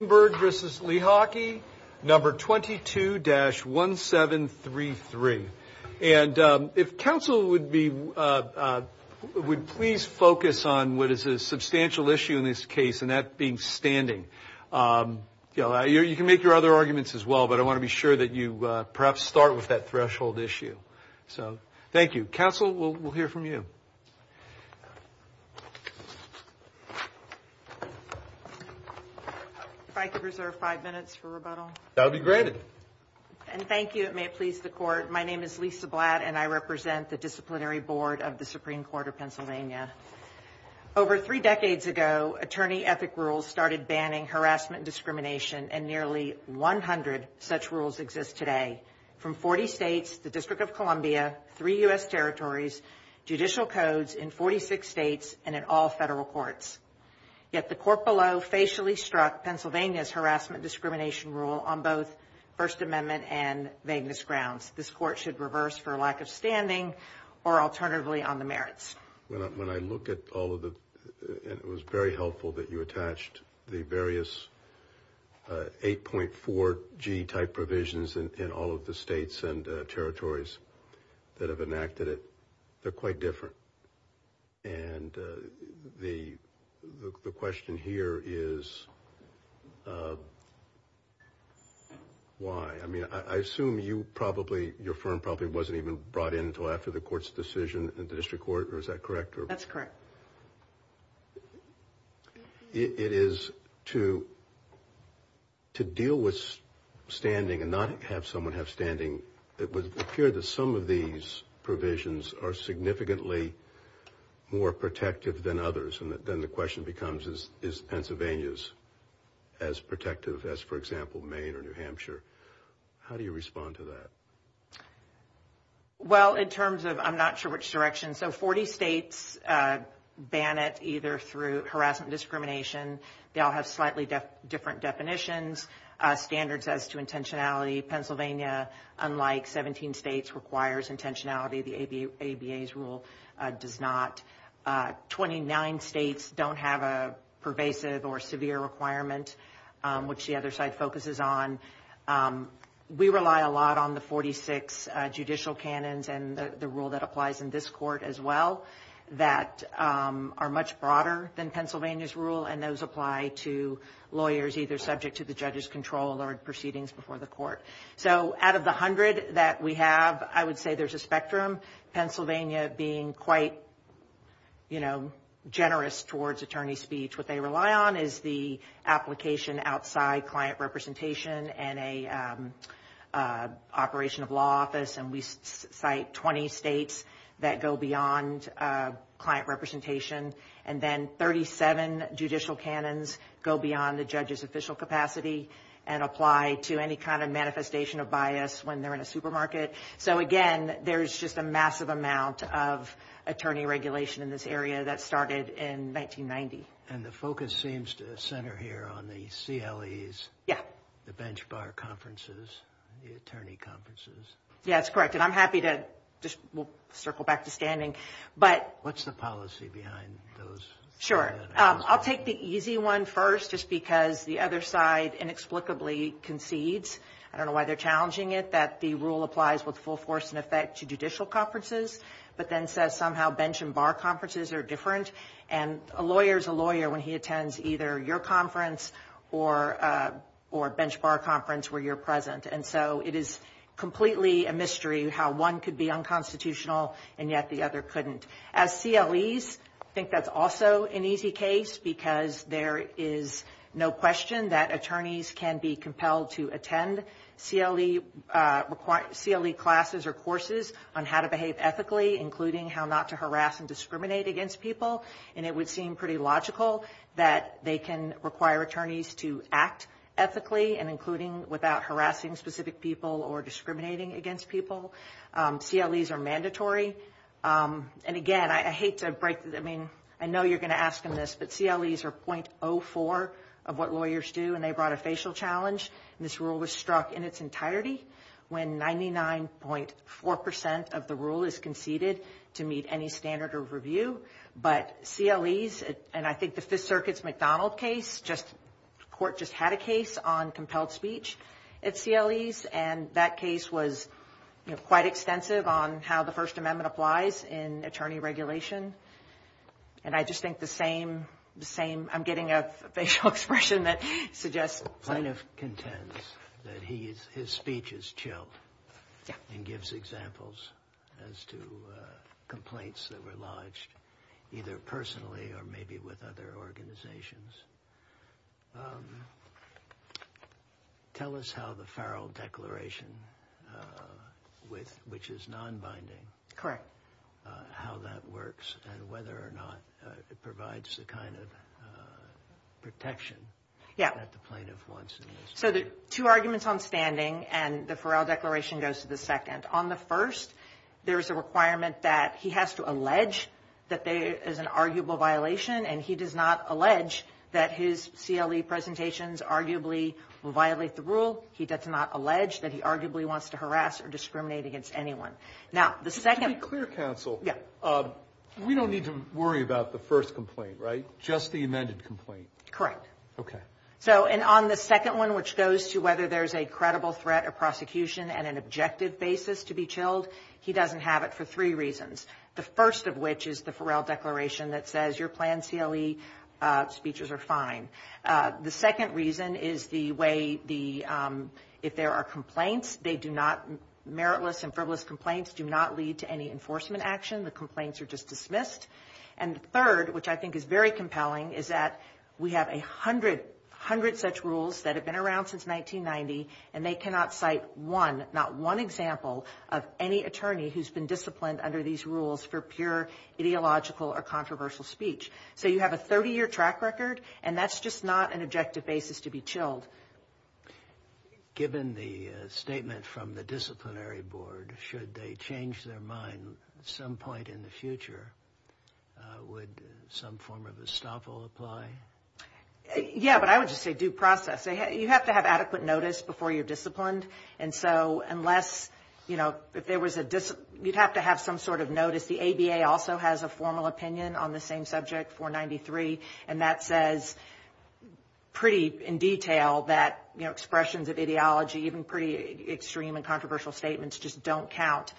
number 22-1733. And if counsel would be, would please focus on what is a substantial issue in this case and that being standing. You know, you can make your other arguments as well, but I want to be sure that you perhaps start with that threshold issue. So thank you. Counsel, we'll hear from you. If I could reserve five minutes for rebuttal. That would be granted. And thank you. It may please the court. My name is Lisa Blatt, and I represent the Disciplinary Board of the Supreme Court of Pennsylvania. Over three decades ago, attorney ethic rules started banning harassment discrimination, and nearly 100 such rules exist today from 40 states, the District of Columbia, three U.S. territories, judicial codes in 46 states, and in all federal courts. Yet the court below facially struck Pennsylvania's harassment discrimination rule on both First Amendment and vagueness grounds. This court should reverse for lack of standing or alternatively on the merits. When I look at all of the, and it was very helpful that you attached the various 8.4G type provisions in all of the states and territories that have enacted it, they're quite different. And the question here is why? I mean, I assume you probably, your firm probably wasn't even brought in until after the court's decision in the district court, or is that correct? That's correct. It is to deal with standing and not have someone have standing. It would appear that some of these provisions are significantly more protective than others. And then the question becomes, is Pennsylvania's as protective as, for example, Maine or New Hampshire? How do you respond to that? Well, in terms of, I'm not sure which direction. So 40 states ban it either through harassment discrimination. They all have slightly different definitions, standards as to intentionality. Pennsylvania, unlike 17 states, requires intentionality. The ABA's rule does not. 29 states don't have a pervasive or severe requirement, which the other side focuses on. We rely a lot on the 46 judicial canons and the rule that applies in this court as well that are much broader than Pennsylvania's rule. And those apply to lawyers either subject to the judge's control or proceedings before the court. So out of the hundred that we have, I would say there's a spectrum. Pennsylvania being quite, you know, generous towards attorney speech. What they rely on is the application outside client representation and a operation of law office. And we cite 20 states that go beyond client representation. And then 37 judicial canons go beyond the judge's official capacity and apply to any kind of manifestation of bias when they're in a supermarket. So again, there's just a massive amount of attorney regulation in this area that started in 1990. And the focus seems to center here on the CLEs. Yeah. The bench bar conferences, the attorney conferences. Yeah, that's correct. And I'm happy to just circle back to standing. But what's the policy behind those? Sure. I'll take the easy one first, just because the other side inexplicably concedes. I don't know why they're challenging it, that the rule applies with full force and effect to judicial conferences, but then says somehow bench and bar conferences are different. And a lawyer is a lawyer when he attends either your conference or a bench bar conference where you're present. And so it is completely a mystery how one could be unconstitutional and yet the other couldn't. As CLEs, I think that's also an easy case because there is no question that attorneys can be compelled to attend CLE classes or courses on how to behave ethically, including how not to harass and discriminate against people. And it would seem pretty logical that they can require attorneys to act ethically and including without harassing specific people or discriminating against people. CLEs are mandatory. And again, I hate to break the, I mean, I know you're going to ask them this, but CLEs are 0.04 of what lawyers do. And they brought a facial challenge. This rule was struck in its entirety when 99.4% of the rule is conceded to meet any standard of review. But CLEs, and I think the Fifth Circuit's McDonald case, the court just had a case on compelled speech at CLEs. And that case was quite extensive on how the First Amendment applies in attorney regulation. And I just think the same, I'm getting a facial expression that suggests. Plaintiff contends that his speech is chilled and gives examples as to complaints that were lodged either personally or maybe with other organizations. Tell us how the Farrell Declaration, which is non-binding, how that works and whether or not it provides the kind of protection that the plaintiff wants. So the two arguments on standing and the Farrell Declaration goes to the second. On the first, there's a requirement that he has to allege that there is an arguable violation. And he does not allege that his CLE presentations arguably violate the rule. He does not allege that he arguably wants to harass or discriminate against anyone. Just to be clear, counsel, we don't need to worry about the first complaint, right? Just the amended complaint? Correct. Okay. So, and on the second one, which goes to whether there's a credible threat of prosecution and an objective basis to be chilled, he doesn't have it for three reasons. The first of which is the Farrell Declaration that says your planned CLE speeches are fine. The second reason is the way the, if there are complaints, they do not, meritless and frivolous complaints do not lead to any enforcement action. The complaints are just dismissed. And the third, which I think is very compelling, is that we have a hundred, hundred such rules that have been around since 1990 and they cannot cite one, not one example of any attorney who's been disciplined under these rules for pure ideological or controversial speech. So, you have a 30-year track record and that's just not an objective basis to be chilled. Given the statement from the disciplinary board, should they change their mind at some point in the future, would some form of estoppel apply? Yeah, but I would just say due process. You have to have adequate notice before you're disciplined. And so, unless, you know, if there was a, you'd have to have some sort of notice. The ABA also has a formal opinion on the same subject, 493, and that says pretty in detail that, you know, expressions of ideology, even pretty extreme and controversial statements just don't count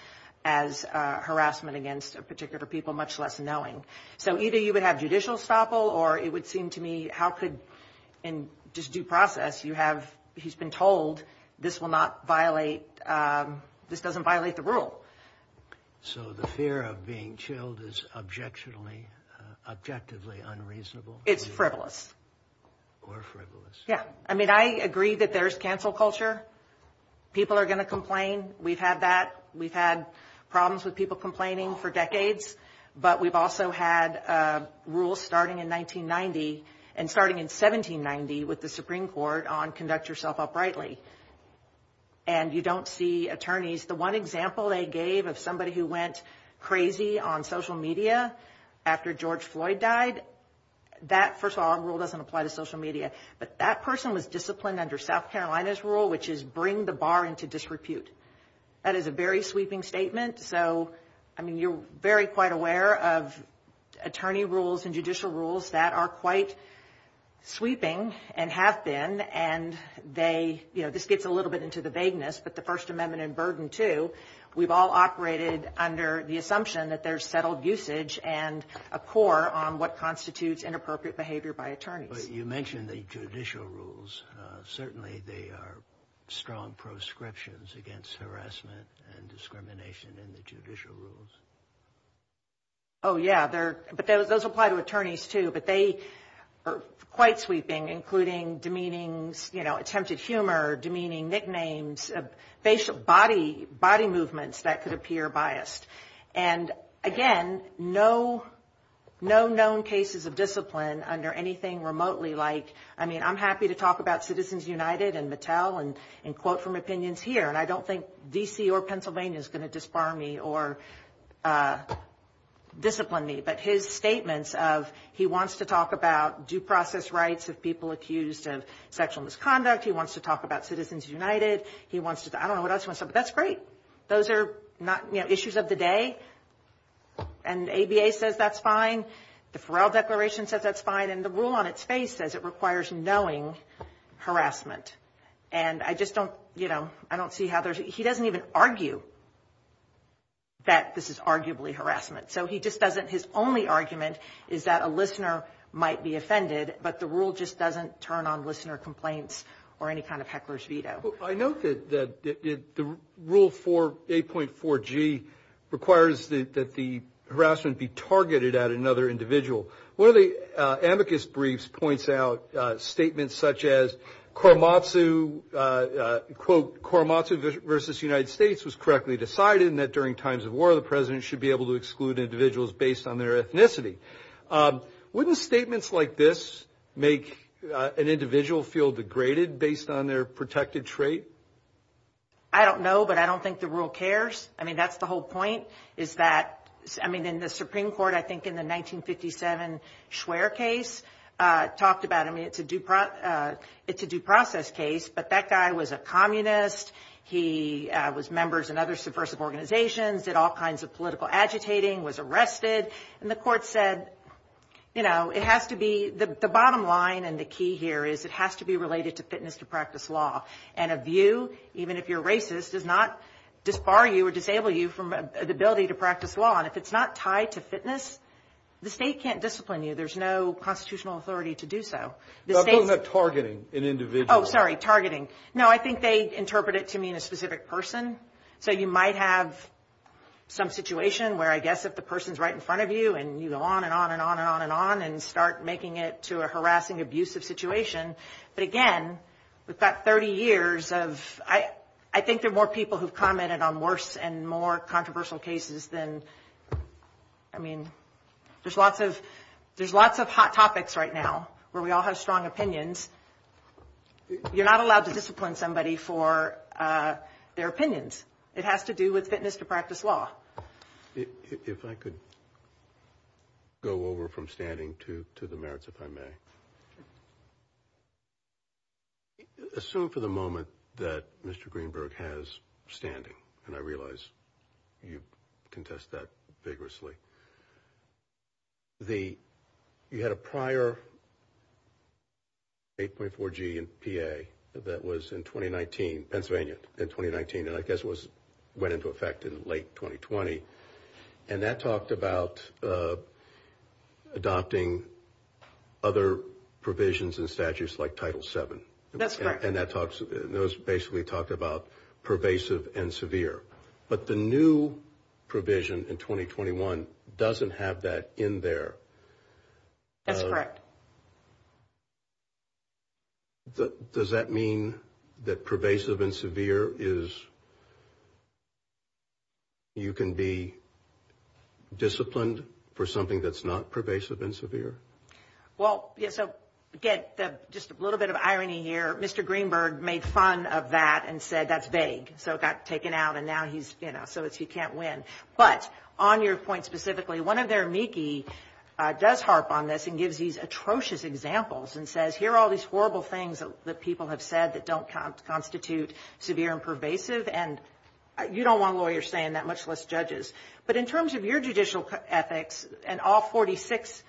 as harassment against a particular people, much less knowing. So, either you would have judicial estoppel or it would seem to me how could, in just due process, you have, he's been told this will not violate, this doesn't violate the rule. So, the fear of being chilled is objectively unreasonable? It's frivolous. Or frivolous. Yeah. I mean, I agree that there's cancel culture. People are going to complain. We've had that. We've had problems with people complaining for decades. But we've also had rules starting in 1990 and starting in 1790 with the Supreme Court on conduct yourself uprightly. And you don't see attorneys. The one example they gave of somebody who went crazy on social media after George Floyd died, that, first of all, rule doesn't apply to social media. But that person was disciplined under South Carolina's rule, which is bring the bar into disrepute. That is a very sweeping statement. So, I mean, you're very quite aware of attorney rules and judicial rules that are quite sweeping and have been. And they, you know, this gets a little bit into the vagueness. But the First Amendment and Burden II, we've all operated under the assumption that there's settled usage and a core on what constitutes inappropriate behavior by attorneys. But you mentioned the judicial rules. Certainly, they are strong proscriptions against harassment and discrimination in the judicial rules. Oh, yeah. But those apply to attorneys, too. But they are quite sweeping, including demeanings, you know, attempted humor, demeaning nicknames, facial body movements that could appear biased. And, again, no known cases of discipline under anything remotely like, I mean, I'm happy to talk about Citizens United and Mattel and quote from opinions here. And I don't think D.C. or Pennsylvania is going to disbar me or discipline me. But his statements of he wants to talk about due process rights of people accused of sexual misconduct. He wants to talk about Citizens United. He wants to. I don't know what else. But that's great. Those are not issues of the day. And ABA says that's fine. The Farrell Declaration says that's fine. And the rule on its face says it requires knowing harassment. And I just don't you know, I don't see how he doesn't even argue. That this is arguably harassment, so he just doesn't his only argument is that a listener might be offended, but the rule just doesn't turn on listener complaints or any kind of heckler's veto. I know that the rule for a point for G requires that the harassment be targeted at another individual. One of the amicus briefs points out statements such as Korematsu, quote, Korematsu versus United States was correctly decided that during times of war, the president should be able to exclude individuals based on their ethnicity. Wouldn't statements like this make an individual feel degraded based on their protected trait? I don't know, but I don't think the rule cares. I mean, that's the whole point is that, I mean, in the Supreme Court, I think in the 1957 Schwer case talked about, I mean, it's a due process case, but that guy was a communist. He was members in other subversive organizations, did all kinds of political agitating, was arrested. And the court said, you know, it has to be the bottom line. And the key here is it has to be related to fitness to practice law. And a view, even if you're racist, does not disbar you or disable you from the ability to practice law. And if it's not tied to fitness, the state can't discipline you. There's no constitutional authority to do so. I'm talking about targeting an individual. Oh, sorry, targeting. No, I think they interpret it to mean a specific person. So you might have some situation where I guess if the person's right in front of you and you go on and on and on and on and on and start making it to a harassing, abusive situation. But again, we've got 30 years of, I think there are more people who've commented on worse and more controversial cases than, I mean, there's lots of hot topics right now where we all have strong opinions. You're not allowed to discipline somebody for their opinions. It has to do with fitness to practice law. If I could go over from standing to to the merits, if I may. Assume for the moment that Mr. Greenberg has standing and I realize you contest that vigorously. You had a prior 8.4G in PA that was in 2019, Pennsylvania in 2019, and I guess went into effect in late 2020. And that talked about adopting other provisions and statutes like Title VII. That's correct. And those basically talked about pervasive and severe. But the new provision in 2021 doesn't have that in there. That's correct. Does that mean that pervasive and severe is you can be disciplined for something that's not pervasive and severe? Well, so again, just a little bit of irony here. Mr. Greenberg made fun of that and said that's vague. So it got taken out and now he's, you know, so he can't win. But on your point specifically, one of their amici does harp on this and gives these atrocious examples and says, here are all these horrible things that people have said that don't constitute severe and pervasive. And you don't want lawyers saying that, much less judges. But in terms of your judicial ethics and all 46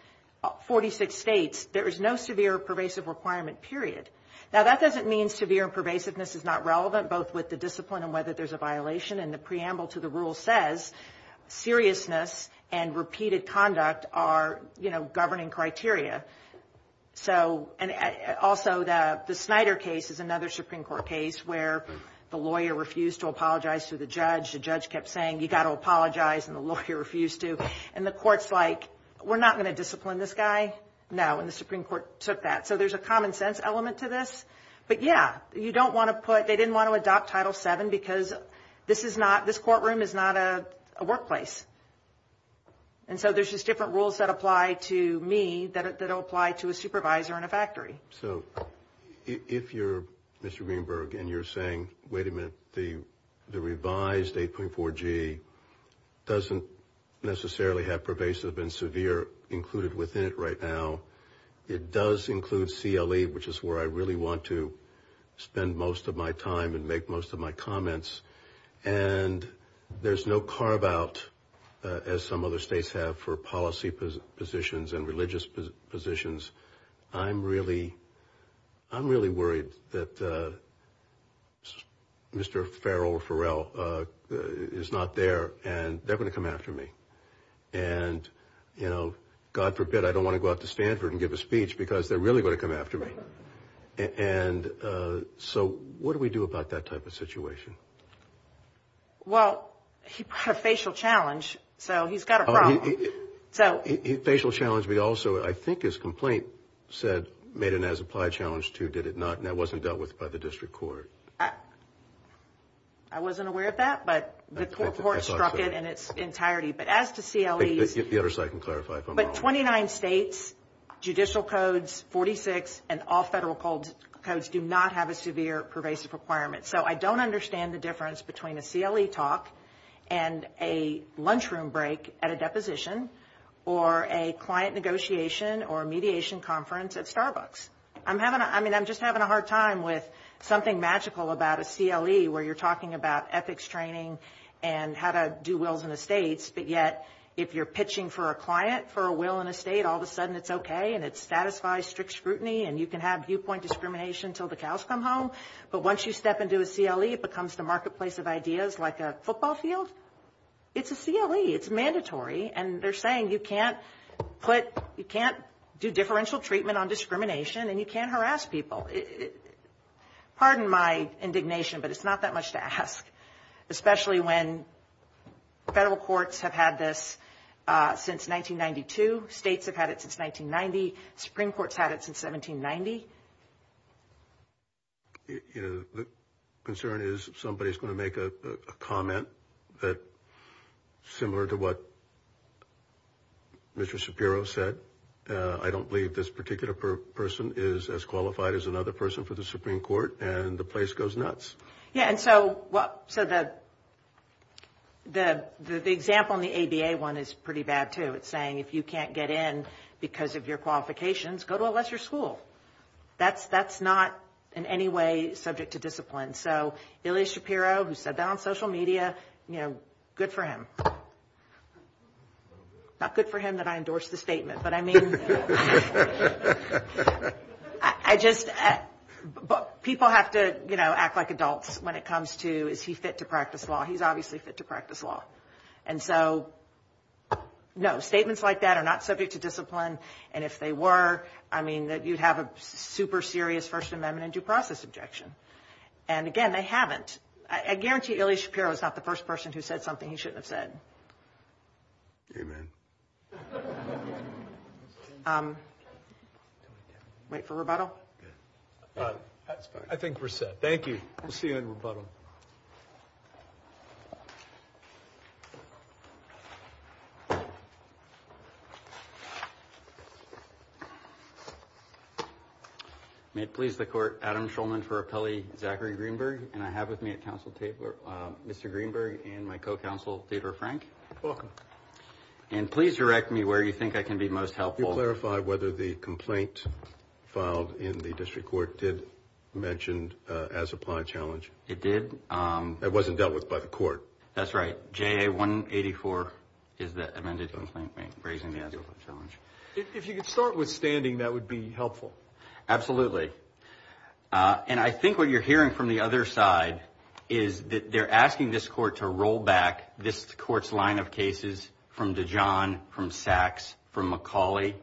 states, there is no severe or pervasive requirement, period. Now, that doesn't mean severe and pervasiveness is not relevant, both with the discipline and whether there's a violation. And the preamble to the rule says seriousness and repeated conduct are, you know, governing criteria. So and also the Snyder case is another Supreme Court case where the lawyer refused to apologize to the judge. The judge kept saying, you got to apologize, and the lawyer refused to. And the court's like, we're not going to discipline this guy. No, and the Supreme Court took that. So there's a common sense element to this. But, yeah, you don't want to put, they didn't want to adopt Title VII because this is not, this courtroom is not a workplace. And so there's just different rules that apply to me that don't apply to a supervisor in a factory. So if you're Mr. Greenberg and you're saying, wait a minute, the revised 8.4G doesn't necessarily have pervasive and severe included within it right now. It does include CLE, which is where I really want to spend most of my time and make most of my comments. And there's no carve out, as some other states have, for policy positions and religious positions. I'm really, I'm really worried that Mr. Farrell is not there and they're going to come after me. And, you know, God forbid I don't want to go out to Stanford and give a speech because they're really going to come after me. And so what do we do about that type of situation? Well, he put a facial challenge, so he's got a problem. Facial challenge, but also I think his complaint said made an as-applied challenge too, did it not? And that wasn't dealt with by the district court. I wasn't aware of that, but the court struck it in its entirety. But as to CLEs. The other side can clarify if I'm wrong. But 29 states, judicial codes, 46, and all federal codes do not have a severe pervasive requirement. So I don't understand the difference between a CLE talk and a lunchroom break at a deposition or a client negotiation or mediation conference at Starbucks. I'm having, I mean, I'm just having a hard time with something magical about a CLE where you're talking about ethics training and how to do wills and estates. But yet, if you're pitching for a client for a will and a state, all of a sudden it's okay and it satisfies strict scrutiny. And you can have viewpoint discrimination until the cows come home. But once you step into a CLE, it becomes the marketplace of ideas like a football field. It's a CLE. It's mandatory. And they're saying you can't put, you can't do differential treatment on discrimination and you can't harass people. Pardon my indignation, but it's not that much to ask, especially when federal courts have had this since 1992. States have had it since 1990. Supreme Court's had it since 1790. You know, the concern is somebody's going to make a comment that's similar to what Mr. Shapiro said. I don't believe this particular person is as qualified as another person for the Supreme Court. And the place goes nuts. Yeah, and so the example in the ABA one is pretty bad, too. It's saying if you can't get in because of your qualifications, go to a lesser school. That's not in any way subject to discipline. So Ilya Shapiro, who said that on social media, you know, good for him. Not good for him that I endorsed the statement, but I mean, I just, people have to, you know, act like adults when it comes to is he fit to practice law. He's obviously fit to practice law. And so, no, statements like that are not subject to discipline. And if they were, I mean, that you'd have a super serious First Amendment and due process objection. And again, they haven't. I guarantee Ilya Shapiro is not the first person who said something he shouldn't have said. Amen. Wait for rebuttal. I think we're set. Thank you. We'll see you in rebuttal. May it please the court, Adam Shulman for appellee, Zachary Greenberg. And I have with me at counsel Mr. Greenberg and my co-counsel, Theodore Frank. Welcome. And please direct me where you think I can be most helpful. Could you clarify whether the complaint filed in the district court did mention as-applied challenge? It did. It wasn't dealt with by the court. That's right. JA 184 is the amended complaint raising the as-applied challenge. If you could start with standing, that would be helpful. Absolutely. And I think what you're hearing from the other side is that they're asking this court to roll back this court's line of cases from DeJohn, from Sachs, from McCauley,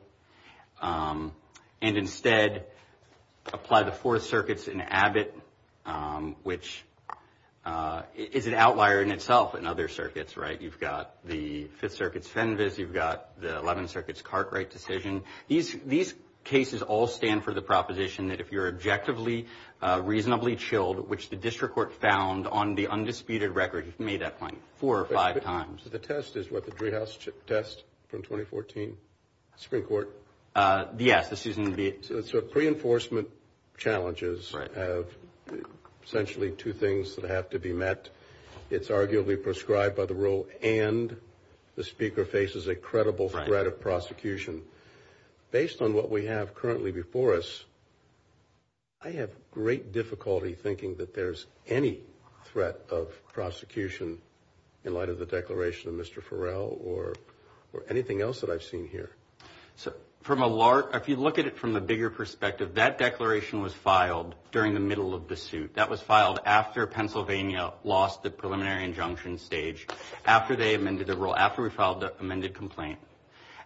and instead apply the Fourth Circuit's in Abbott, which is an outlier in itself in other circuits, right? You've got the Fifth Circuit's Fenves. You've got the Eleventh Circuit's Cartwright decision. These cases all stand for the proposition that if you're objectively reasonably chilled, which the district court found on the undisputed record, you've made that point four or five times. The test is what? The Driehaus test from 2014? Supreme Court? Yes. So pre-enforcement challenges have essentially two things that have to be met. It's arguably prescribed by the rule, and the speaker faces a credible threat of prosecution. Based on what we have currently before us, I have great difficulty thinking that there's any threat of prosecution in light of the declaration of Mr. Farrell or anything else that I've seen here. If you look at it from the bigger perspective, that declaration was filed during the middle of the suit. That was filed after Pennsylvania lost the preliminary injunction stage, after they amended the rule, after we filed the amended complaint.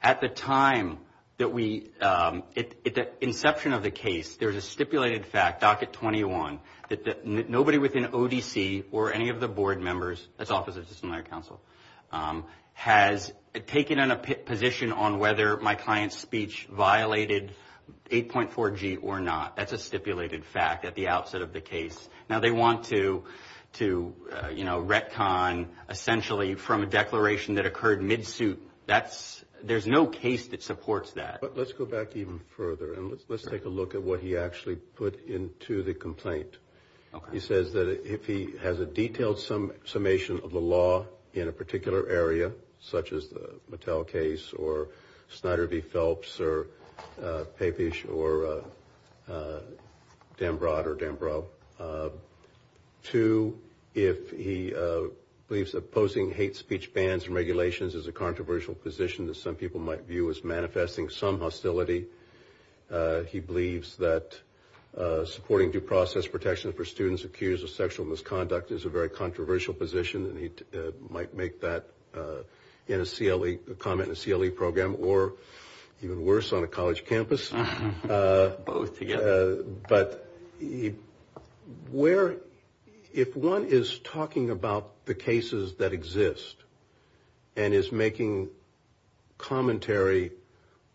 At the time that we – at the inception of the case, there was a stipulated fact, docket 21, that nobody within ODC or any of the board members – that's Office of Disciplinary Counsel – has taken a position on whether my client's speech violated 8.4G or not. That's a stipulated fact at the outset of the case. Now, they want to, you know, retcon essentially from a declaration that occurred mid-suit. That's – there's no case that supports that. But let's go back even further, and let's take a look at what he actually put into the complaint. He says that if he has a detailed summation of the law in a particular area, such as the Mattel case or Snyder v. Phelps or Papish or Dambrot or Dambrow, two, if he believes opposing hate speech bans and regulations is a controversial position that some people might view as manifesting some hostility, he believes that supporting due process protection for students accused of sexual misconduct is a very controversial position, and he might make that in a CLE – a comment in a CLE program or, even worse, on a college campus. Both together. But where – if one is talking about the cases that exist and is making commentary,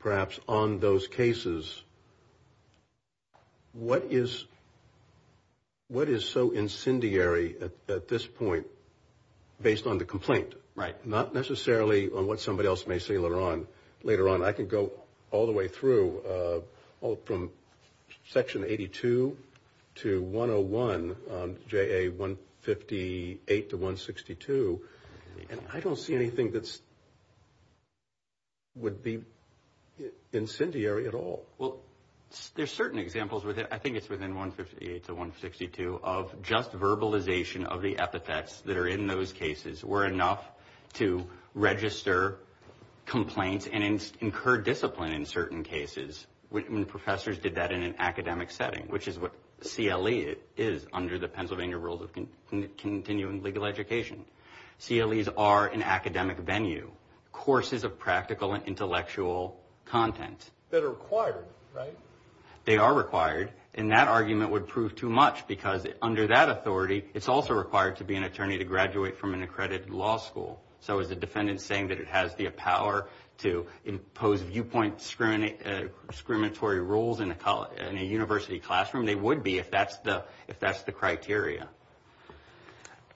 perhaps, on those cases, what is so incendiary at this point based on the complaint? Right. Not necessarily on what somebody else may say later on. And I don't see anything that would be incendiary at all. Well, there are certain examples – I think it's within 158 to 162 – of just verbalization of the epithets that are in those cases were enough to register complaints and incur discipline in certain cases. Professors did that in an academic setting, which is what CLE is under the Pennsylvania Rules of Continuing Legal Education. CLEs are an academic venue, courses of practical and intellectual content. That are required, right? They are required, and that argument would prove too much because under that authority, it's also required to be an attorney to graduate from an accredited law school. So is the defendant saying that it has the power to impose viewpoint discriminatory rules in a university classroom? They would be if that's the criteria.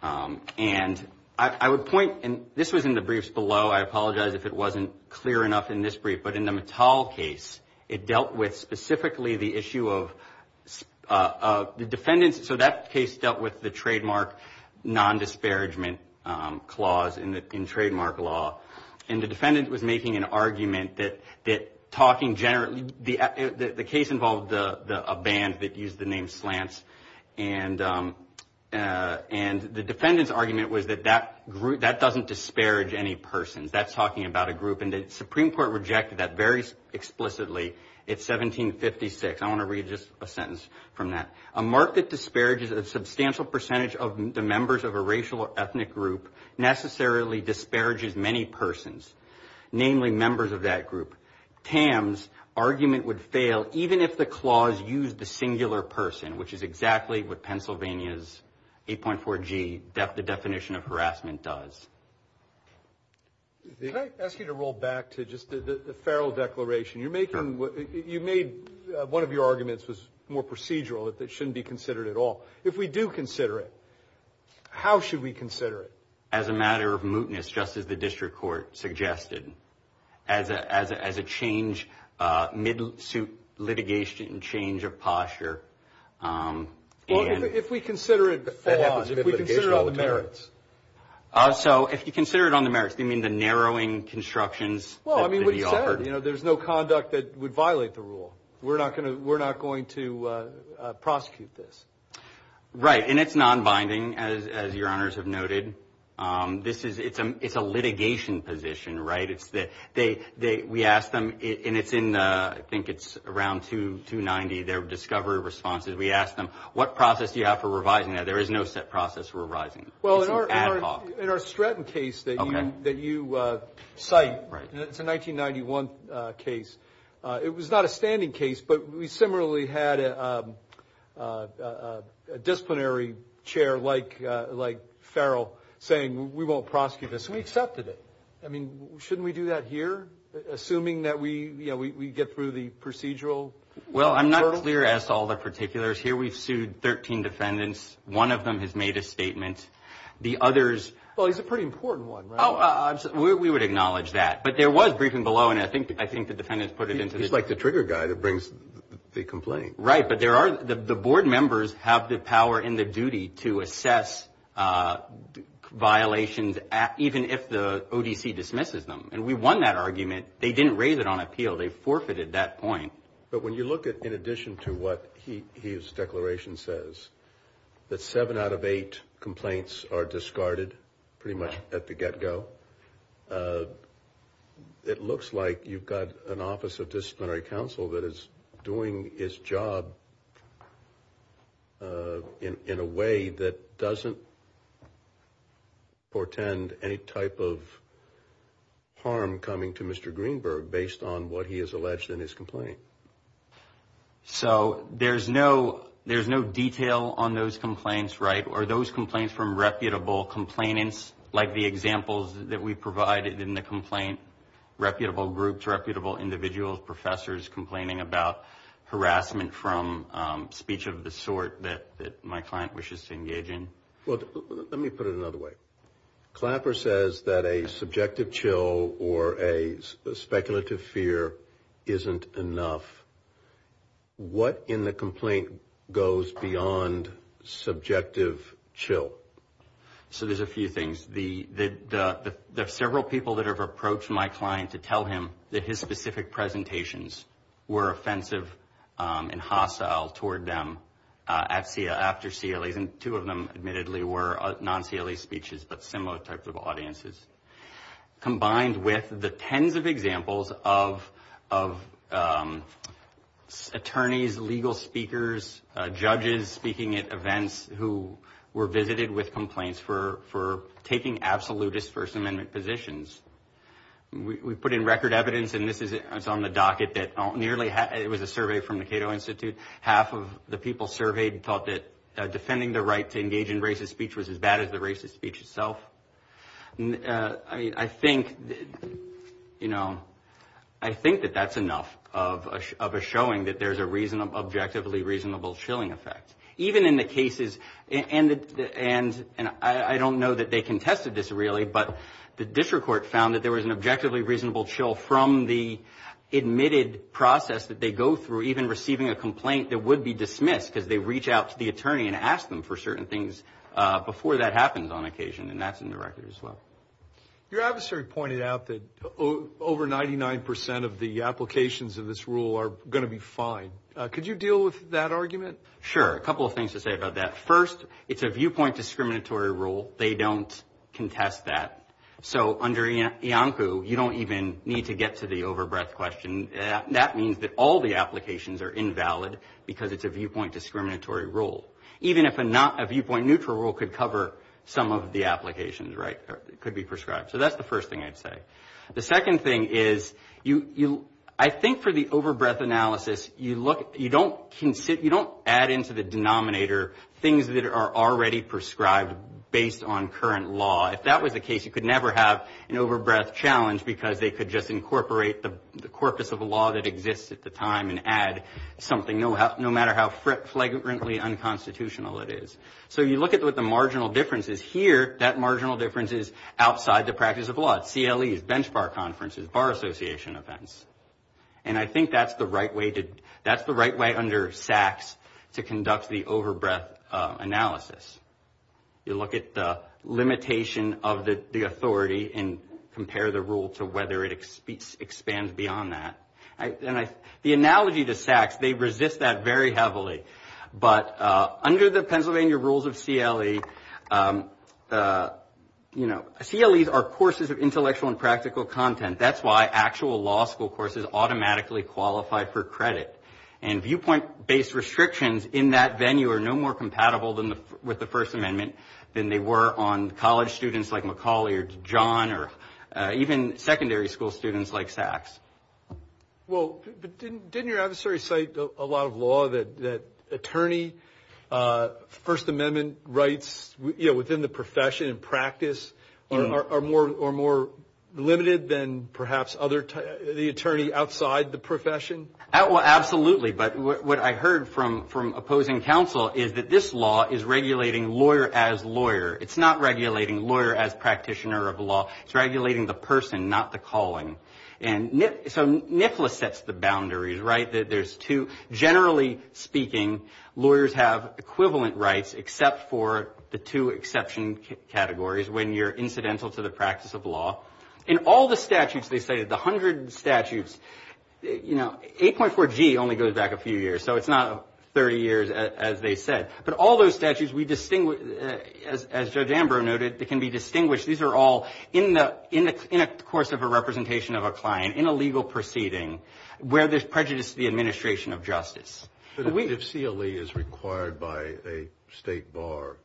And I would point – and this was in the briefs below. I apologize if it wasn't clear enough in this brief. But in the Mital case, it dealt with specifically the issue of the defendant's – so that case dealt with the trademark non-disparagement clause in trademark law. And the defendant was making an argument that talking generally – the case involved a band that used the name Slants. And the defendant's argument was that that doesn't disparage any persons. That's talking about a group. And the Supreme Court rejected that very explicitly. It's 1756. I want to read just a sentence from that. A mark that disparages a substantial percentage of the members of a racial or ethnic group necessarily disparages many persons, namely members of that group. Tam's argument would fail even if the clause used the singular person, which is exactly what Pennsylvania's 8.4G, the definition of harassment, does. Can I ask you to roll back to just the Farrell Declaration? You're making – you made – one of your arguments was more procedural, that it shouldn't be considered at all. If we do consider it, how should we consider it? As a matter of mootness, just as the district court suggested. As a change – mid-suit litigation change of posture. If we consider it – hold on. If we consider it on the merits. So if you consider it on the merits, you mean the narrowing constructions that could be offered? Well, I mean, what he said. You know, there's no conduct that would violate the rule. We're not going to prosecute this. Right. And it's nonbinding, as your honors have noted. This is – it's a litigation position, right? It's the – we asked them, and it's in – I think it's around 290, their discovery responses. We asked them, what process do you have for revising that? There is no set process for revising it. Well, in our Stretton case that you cite, it's a 1991 case. It was not a standing case, but we similarly had a disciplinary chair like Farrell saying, we won't prosecute this, and we accepted it. I mean, shouldn't we do that here, assuming that we get through the procedural hurdle? Well, I'm not clear as to all the particulars. Here we've sued 13 defendants. One of them has made a statement. The others – Well, he's a pretty important one, right? We would acknowledge that. But there was briefing below, and I think the defendants put it into the – He's like the trigger guy that brings the complaint. Right, but there are – the board members have the power and the duty to assess violations, even if the ODC dismisses them, and we won that argument. They didn't raise it on appeal. They forfeited that point. But when you look at, in addition to what his declaration says, that seven out of eight complaints are discarded pretty much at the get-go, it looks like you've got an office of disciplinary counsel that is doing its job in a way that doesn't portend any type of harm coming to Mr. Greenberg based on what he has alleged in his complaint. So there's no detail on those complaints, right? Are those complaints from reputable complainants, like the examples that we provided in the complaint, reputable groups, reputable individuals, professors, complaining about harassment from speech of the sort that my client wishes to engage in? Let me put it another way. Clapper says that a subjective chill or a speculative fear isn't enough. What in the complaint goes beyond subjective chill? So there's a few things. There are several people that have approached my client to tell him that his specific presentations were offensive and hostile toward them after CLEs, and two of them admittedly were non-CLE speeches but similar types of audiences. Combined with the tens of examples of attorneys, legal speakers, judges speaking at events who were visited with complaints for taking absolutist First Amendment positions. We put in record evidence, and this is on the docket, that nearly half, it was a survey from the Cato Institute, half of the people surveyed thought that defending the right to engage in racist speech was as bad as the racist speech itself. I think, you know, I think that that's enough of a showing that there's an objectively reasonable chilling effect. Even in the cases, and I don't know that they contested this really, but the district court found that there was an objectively reasonable chill from the admitted process that they go through, even receiving a complaint that would be dismissed because they reach out to the attorney and ask them for certain things before that happens on occasion, and that's in the record as well. Your adversary pointed out that over 99 percent of the applications of this rule are going to be fine. Could you deal with that argument? Sure. A couple of things to say about that. First, it's a viewpoint discriminatory rule. They don't contest that. So under IANCU, you don't even need to get to the over-breath question. That means that all the applications are invalid because it's a viewpoint discriminatory rule, even if a viewpoint neutral rule could cover some of the applications, right, could be prescribed. So that's the first thing I'd say. The second thing is I think for the over-breath analysis, you don't add into the denominator things that are already prescribed based on current law. If that was the case, you could never have an over-breath challenge because they could just incorporate the corpus of law that exists at the time and add something no matter how flagrantly unconstitutional it is. So you look at what the marginal difference is. Here, that marginal difference is outside the practice of law. It's CLEs, bench bar conferences, bar association events. And I think that's the right way under SACS to conduct the over-breath analysis. You look at the limitation of the authority and compare the rule to whether it expands beyond that. And the analogy to SACS, they resist that very heavily. But under the Pennsylvania rules of CLE, you know, CLEs are courses of intellectual and practical content. That's why actual law school courses automatically qualify for credit. And viewpoint-based restrictions in that venue are no more compatible with the First Amendment than they were on college students like Macaulay or John or even secondary school students like SACS. Well, didn't your adversary cite a lot of law that attorney, First Amendment rights, you know, within the profession and practice are more limited than perhaps the attorney outside the profession? Well, absolutely. But what I heard from opposing counsel is that this law is regulating lawyer as lawyer. It's not regulating lawyer as practitioner of law. It's regulating the person, not the calling. And so NIFLA sets the boundaries, right, that there's two. Generally speaking, lawyers have equivalent rights except for the two exception categories when you're incidental to the practice of law. In all the statutes they cited, the 100 statutes, you know, 8.4G only goes back a few years, so it's not 30 years as they said. But all those statutes, as Judge Ambrose noted, can be distinguished. These are all in the course of a representation of a client in a legal proceeding But if CLE is required by a state bar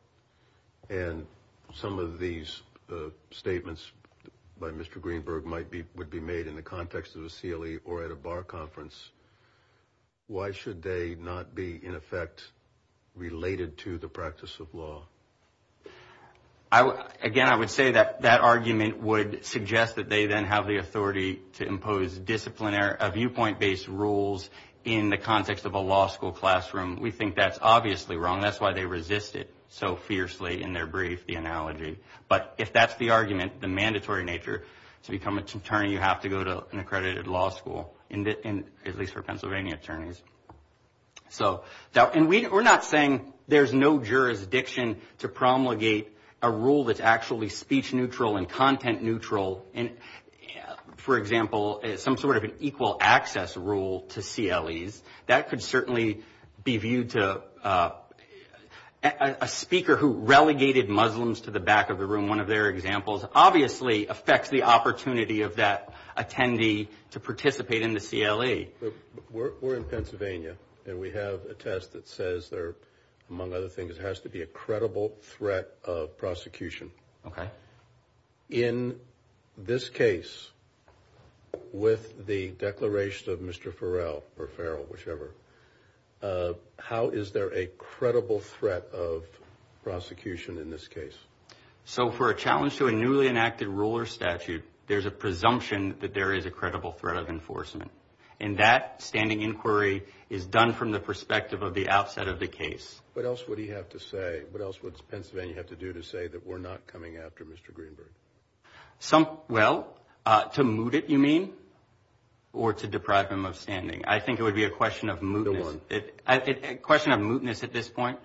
and some of these statements by Mr. Greenberg would be made in the context of a CLE or at a bar conference, why should they not be, in effect, related to the practice of law? Again, I would say that that argument would suggest that they then have the authority to impose a viewpoint-based rules in the context of a law school classroom. We think that's obviously wrong. That's why they resist it so fiercely in their brief, the analogy. But if that's the argument, the mandatory nature to become an attorney, you have to go to an accredited law school, at least for Pennsylvania attorneys. And we're not saying there's no jurisdiction to promulgate a rule that's actually speech neutral and content neutral. And, for example, some sort of an equal access rule to CLEs, that could certainly be viewed to a speaker who relegated Muslims to the back of the room. One of their examples obviously affects the opportunity of that attendee to participate in the CLE. We're in Pennsylvania, and we have a test that says there, among other things, has to be a credible threat of prosecution. Okay. In this case, with the declaration of Mr. Farrell, or Farrell, whichever, how is there a credible threat of prosecution in this case? So for a challenge to a newly enacted ruler statute, there's a presumption that there is a credible threat of enforcement. And that standing inquiry is done from the perspective of the outset of the case. What else would he have to say? What else would Pennsylvania have to do to say that we're not coming after Mr. Greenberg? Well, to moot it, you mean, or to deprive him of standing? I think it would be a question of mootness. The one. A question of mootness at this point.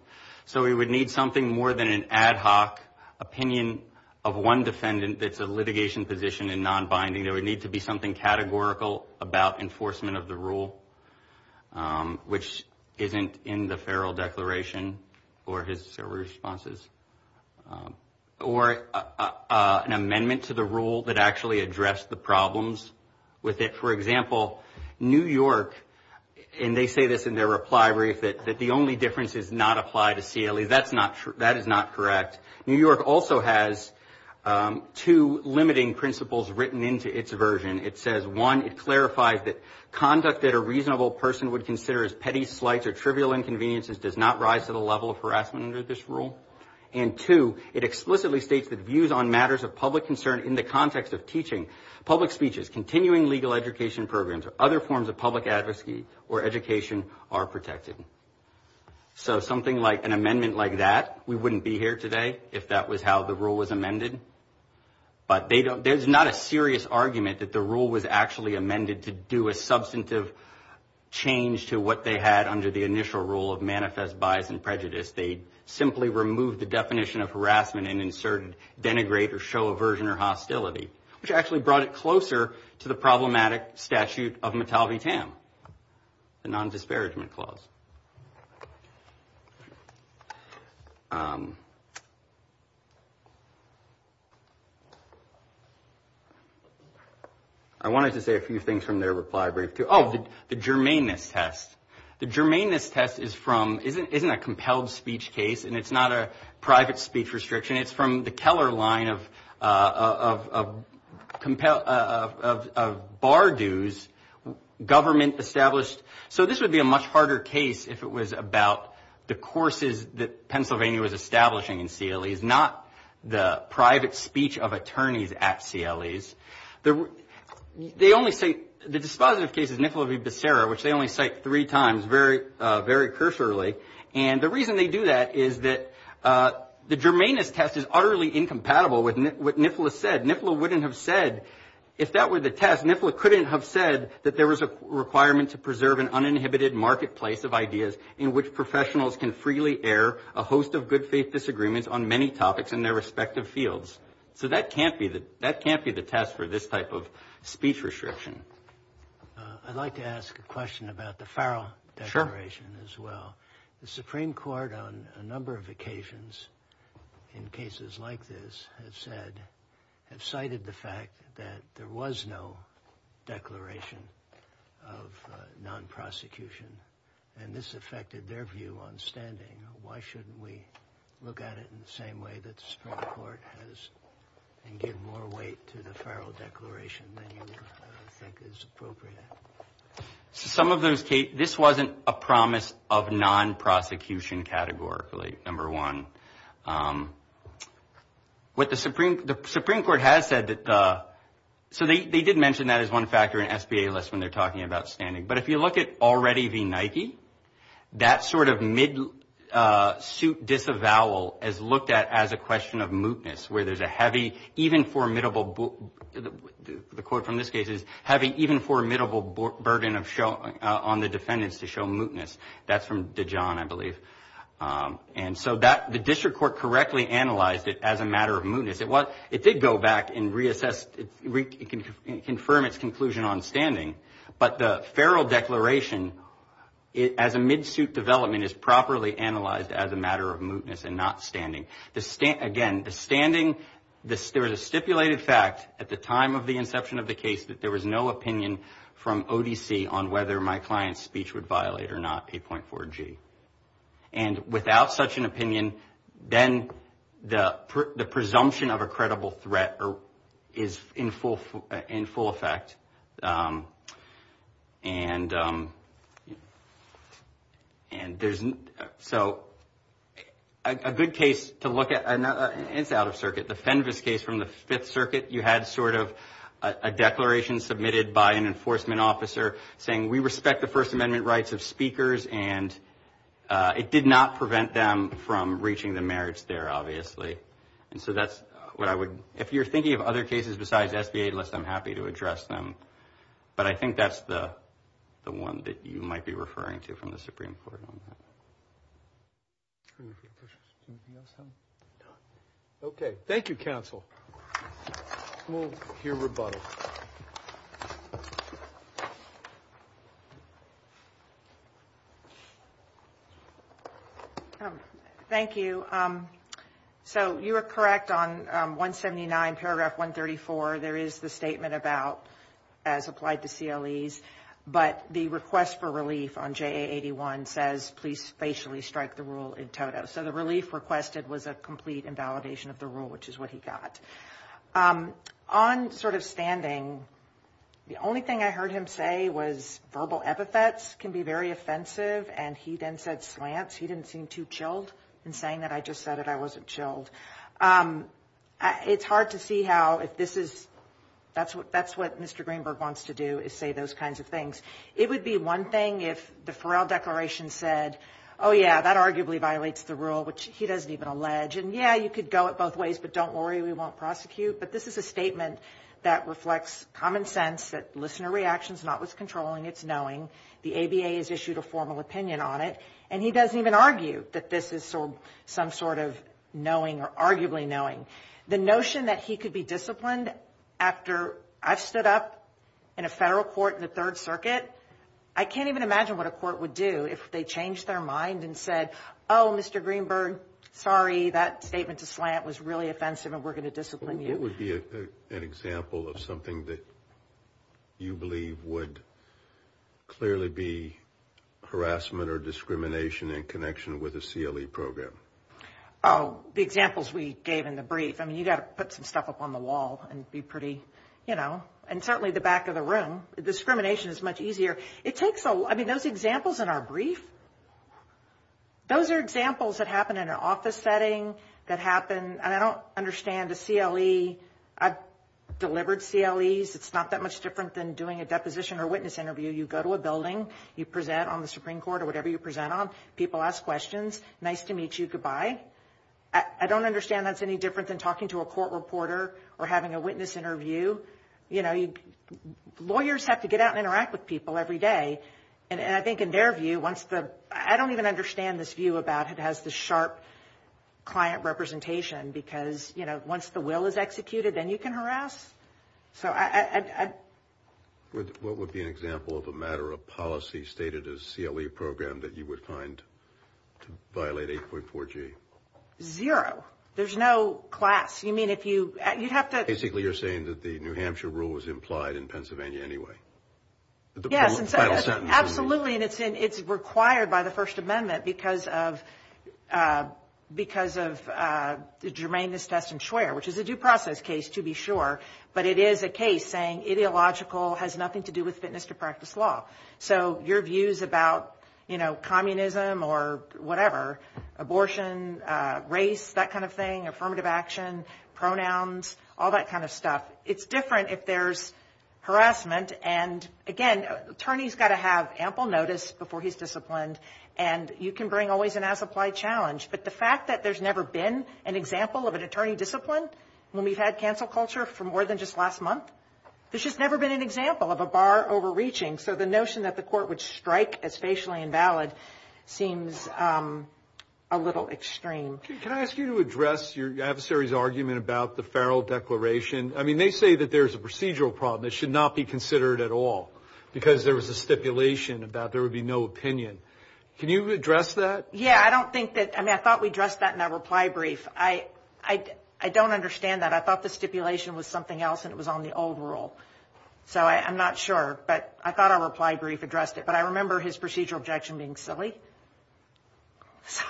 So we would need something more than an ad hoc opinion of one defendant that's a litigation position and non-binding. There would need to be something categorical about enforcement of the rule, which isn't in the Farrell declaration or his responses. Or an amendment to the rule that actually addressed the problems with it. For example, New York, and they say this in their reply brief, that the only difference is not apply to CLE. That's not true. That is not correct. New York also has two limiting principles written into its version. It says, one, it clarifies that conduct that a reasonable person would consider as petty slights or trivial inconveniences does not rise to the level of harassment under this rule. And, two, it explicitly states that views on matters of public concern in the context of teaching, public speeches, continuing legal education programs, or other forms of public advocacy or education are protected. So something like an amendment like that, we wouldn't be here today if that was how the rule was amended. But there's not a serious argument that the rule was actually amended to do a substantive change to what they had under the initial rule of manifest bias and prejudice. They simply removed the definition of harassment and inserted denigrate or show aversion or hostility, which actually brought it closer to the problematic statute of Matalvi-Tam, the non-disparagement clause. I wanted to say a few things from their reply brief, too. Oh, the germanness test. The germanness test is from, isn't a compelled speech case, and it's not a private speech restriction. It's from the Keller line of bar dues government established. So this would be a much harder case if it was about the courses that Pennsylvania was establishing in CLEs, not the private speech of attorneys at CLEs. They only say, the dispositive case is Nicola v. Becerra, which they only cite three times, very, very cursorily. And the reason they do that is that the germanness test is utterly incompatible with what Nicola said. Nicola wouldn't have said, if that were the test, Nicola couldn't have said that there was a requirement to preserve an uninhibited marketplace of ideas in which professionals can freely air a host of good faith disagreements on many topics in their respective fields. So that can't be the test for this type of speech restriction. I'd like to ask a question about the Farrell declaration as well. The Supreme Court on a number of occasions in cases like this have said, have cited the fact that there was no declaration of non-prosecution, and this affected their view on standing. Why shouldn't we look at it in the same way that the Supreme Court has and give more weight to the Farrell declaration than you think is appropriate? This wasn't a promise of non-prosecution categorically, number one. What the Supreme Court has said, so they did mention that as one factor in SBA lists when they're talking about standing, that sort of mid-suit disavowal is looked at as a question of mootness, where there's a heavy, even formidable, the quote from this case is, heavy, even formidable burden on the defendants to show mootness. That's from DeJohn, I believe. And so the district court correctly analyzed it as a matter of mootness. It did go back and reassess, confirm its conclusion on standing, but the Farrell declaration, as a mid-suit development, is properly analyzed as a matter of mootness and not standing. Again, the standing, there was a stipulated fact at the time of the inception of the case that there was no opinion from ODC on whether my client's speech would violate or not P.4G. And without such an opinion, then the presumption of a credible threat is in full effect. And so a good case to look at, and it's out of circuit, the Fenves case from the Fifth Circuit, you had sort of a declaration submitted by an enforcement officer saying, we respect the First Amendment rights of speakers, and it did not prevent them from reaching the merits there, obviously. And so that's what I would, if you're thinking of other cases besides SBA lists, I'm happy to address them. But I think that's the one that you might be referring to from the Supreme Court on that. Okay. Thank you, counsel. We'll hear rebuttal. Thank you. So you are correct on 179, paragraph 134. There is the statement about, as applied to CLEs, but the request for relief on JA 81 says, please facially strike the rule in toto. So the relief requested was a complete invalidation of the rule, which is what he got. On sort of standing, the only thing I heard him say was verbal epithets can be very offensive, and he then said slants. He didn't seem too chilled in saying that. I just said it. I wasn't chilled. It's hard to see how, if this is, that's what Mr. Greenberg wants to do is say those kinds of things. It would be one thing if the Farrell Declaration said, oh, yeah, that arguably violates the rule, which he doesn't even allege. And, yeah, you could go it both ways, but don't worry, we won't prosecute. But this is a statement that reflects common sense, that listener reaction is not what's controlling, it's knowing. The ABA has issued a formal opinion on it, and he doesn't even argue that this is some sort of knowing or arguably knowing. The notion that he could be disciplined after I've stood up in a federal court in the Third Circuit, I can't even imagine what a court would do if they changed their mind and said, oh, Mr. Greenberg, sorry, that statement to slant was really offensive and we're going to discipline you. What would be an example of something that you believe would clearly be harassment or discrimination in connection with a CLE program? Oh, the examples we gave in the brief. I mean, you've got to put some stuff up on the wall and be pretty, you know, and certainly the back of the room. Discrimination is much easier. I mean, those examples in our brief, those are examples that happen in an office setting, that happen, and I don't understand the CLE. I've delivered CLEs. It's not that much different than doing a deposition or witness interview. You go to a building. You present on the Supreme Court or whatever you present on. People ask questions. Nice to meet you. Goodbye. I don't understand that's any different than talking to a court reporter or having a witness interview. You know, lawyers have to get out and interact with people every day, and I think in their view, once the – I don't even understand this view about it has the sharp client representation because, you know, once the will is executed, then you can harass. So I – What would be an example of a matter of policy stated as CLE program that you would find to violate 8.4G? Zero. There's no class. You mean if you – you'd have to – Basically, you're saying that the New Hampshire rule was implied in Pennsylvania anyway. Yes, absolutely, and it's in – it's required by the First Amendment because of – because of the germaneness test and swear, which is a due process case to be sure, but it is a case saying ideological has nothing to do with fitness to practice law. So your views about, you know, communism or whatever, abortion, race, that kind of thing, affirmative action, pronouns, all that kind of stuff, it's different if there's harassment. And, again, attorney's got to have ample notice before he's disciplined, and you can bring always an as-applied challenge. But the fact that there's never been an example of an attorney disciplined when we've had cancel culture for more than just last month, there's just never been an example of a bar overreaching. So the notion that the court would strike as facially invalid seems a little extreme. Can I ask you to address your adversary's argument about the Farrell Declaration? I mean, they say that there's a procedural problem that should not be considered at all because there was a stipulation about there would be no opinion. Can you address that? Yeah, I don't think that – I mean, I thought we addressed that in that reply brief. I don't understand that. I thought the stipulation was something else and it was on the old rule, so I'm not sure. But I thought our reply brief addressed it, but I remember his procedural objection being silly.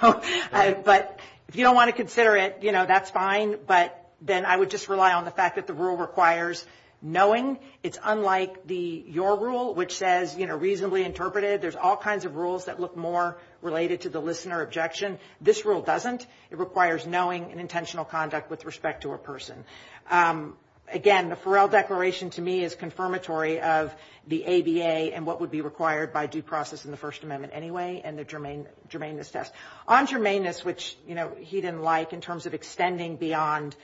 But if you don't want to consider it, that's fine, but then I would just rely on the fact that the rule requires knowing. It's unlike your rule, which says reasonably interpreted. There's all kinds of rules that look more related to the listener objection. This rule doesn't. It requires knowing and intentional conduct with respect to a person. Again, the Farrell Declaration to me is confirmatory of the ABA and what would be required by due process in the First Amendment anyway and the germaneness test. On germaneness, which he didn't like in terms of extending beyond,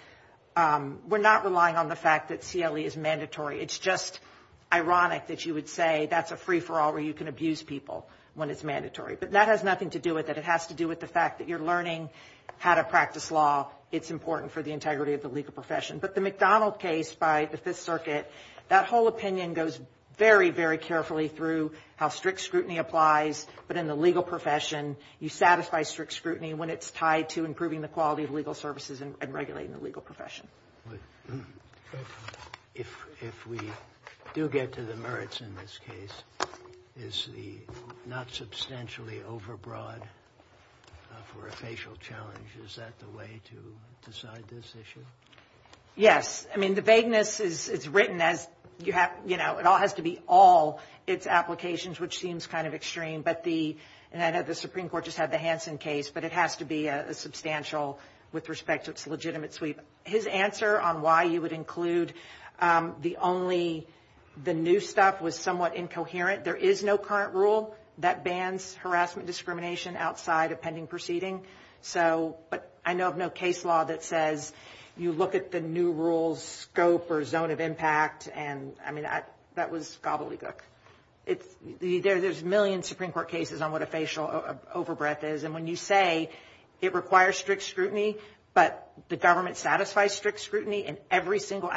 we're not relying on the fact that CLE is mandatory. It's just ironic that you would say that's a free-for-all where you can abuse people when it's mandatory. But that has nothing to do with it. It has to do with the fact that you're learning how to practice law. It's important for the integrity of the legal profession. But the McDonald case by the Fifth Circuit, that whole opinion goes very, very carefully through how strict scrutiny applies. But in the legal profession, you satisfy strict scrutiny when it's tied to improving the quality of legal services and regulating the legal profession. If we do get to the merits in this case, is the not substantially overbroad for a facial challenge, is that the way to decide this issue? Yes. I mean, the vagueness is written as you have, you know, it all has to be all its applications, which seems kind of extreme. But the, and I know the Supreme Court just had the Hansen case, but it has to be a substantial with respect to its legitimate sweep. His answer on why you would include the only, the new stuff was somewhat incoherent. There is no current rule that bans harassment discrimination outside of pending proceeding. So, but I know of no case law that says you look at the new rule's scope or zone of impact, and I mean, that was gobbledygook. There's millions of Supreme Court cases on what a facial overbreath is. And when you say it requires strict scrutiny, but the government satisfies strict scrutiny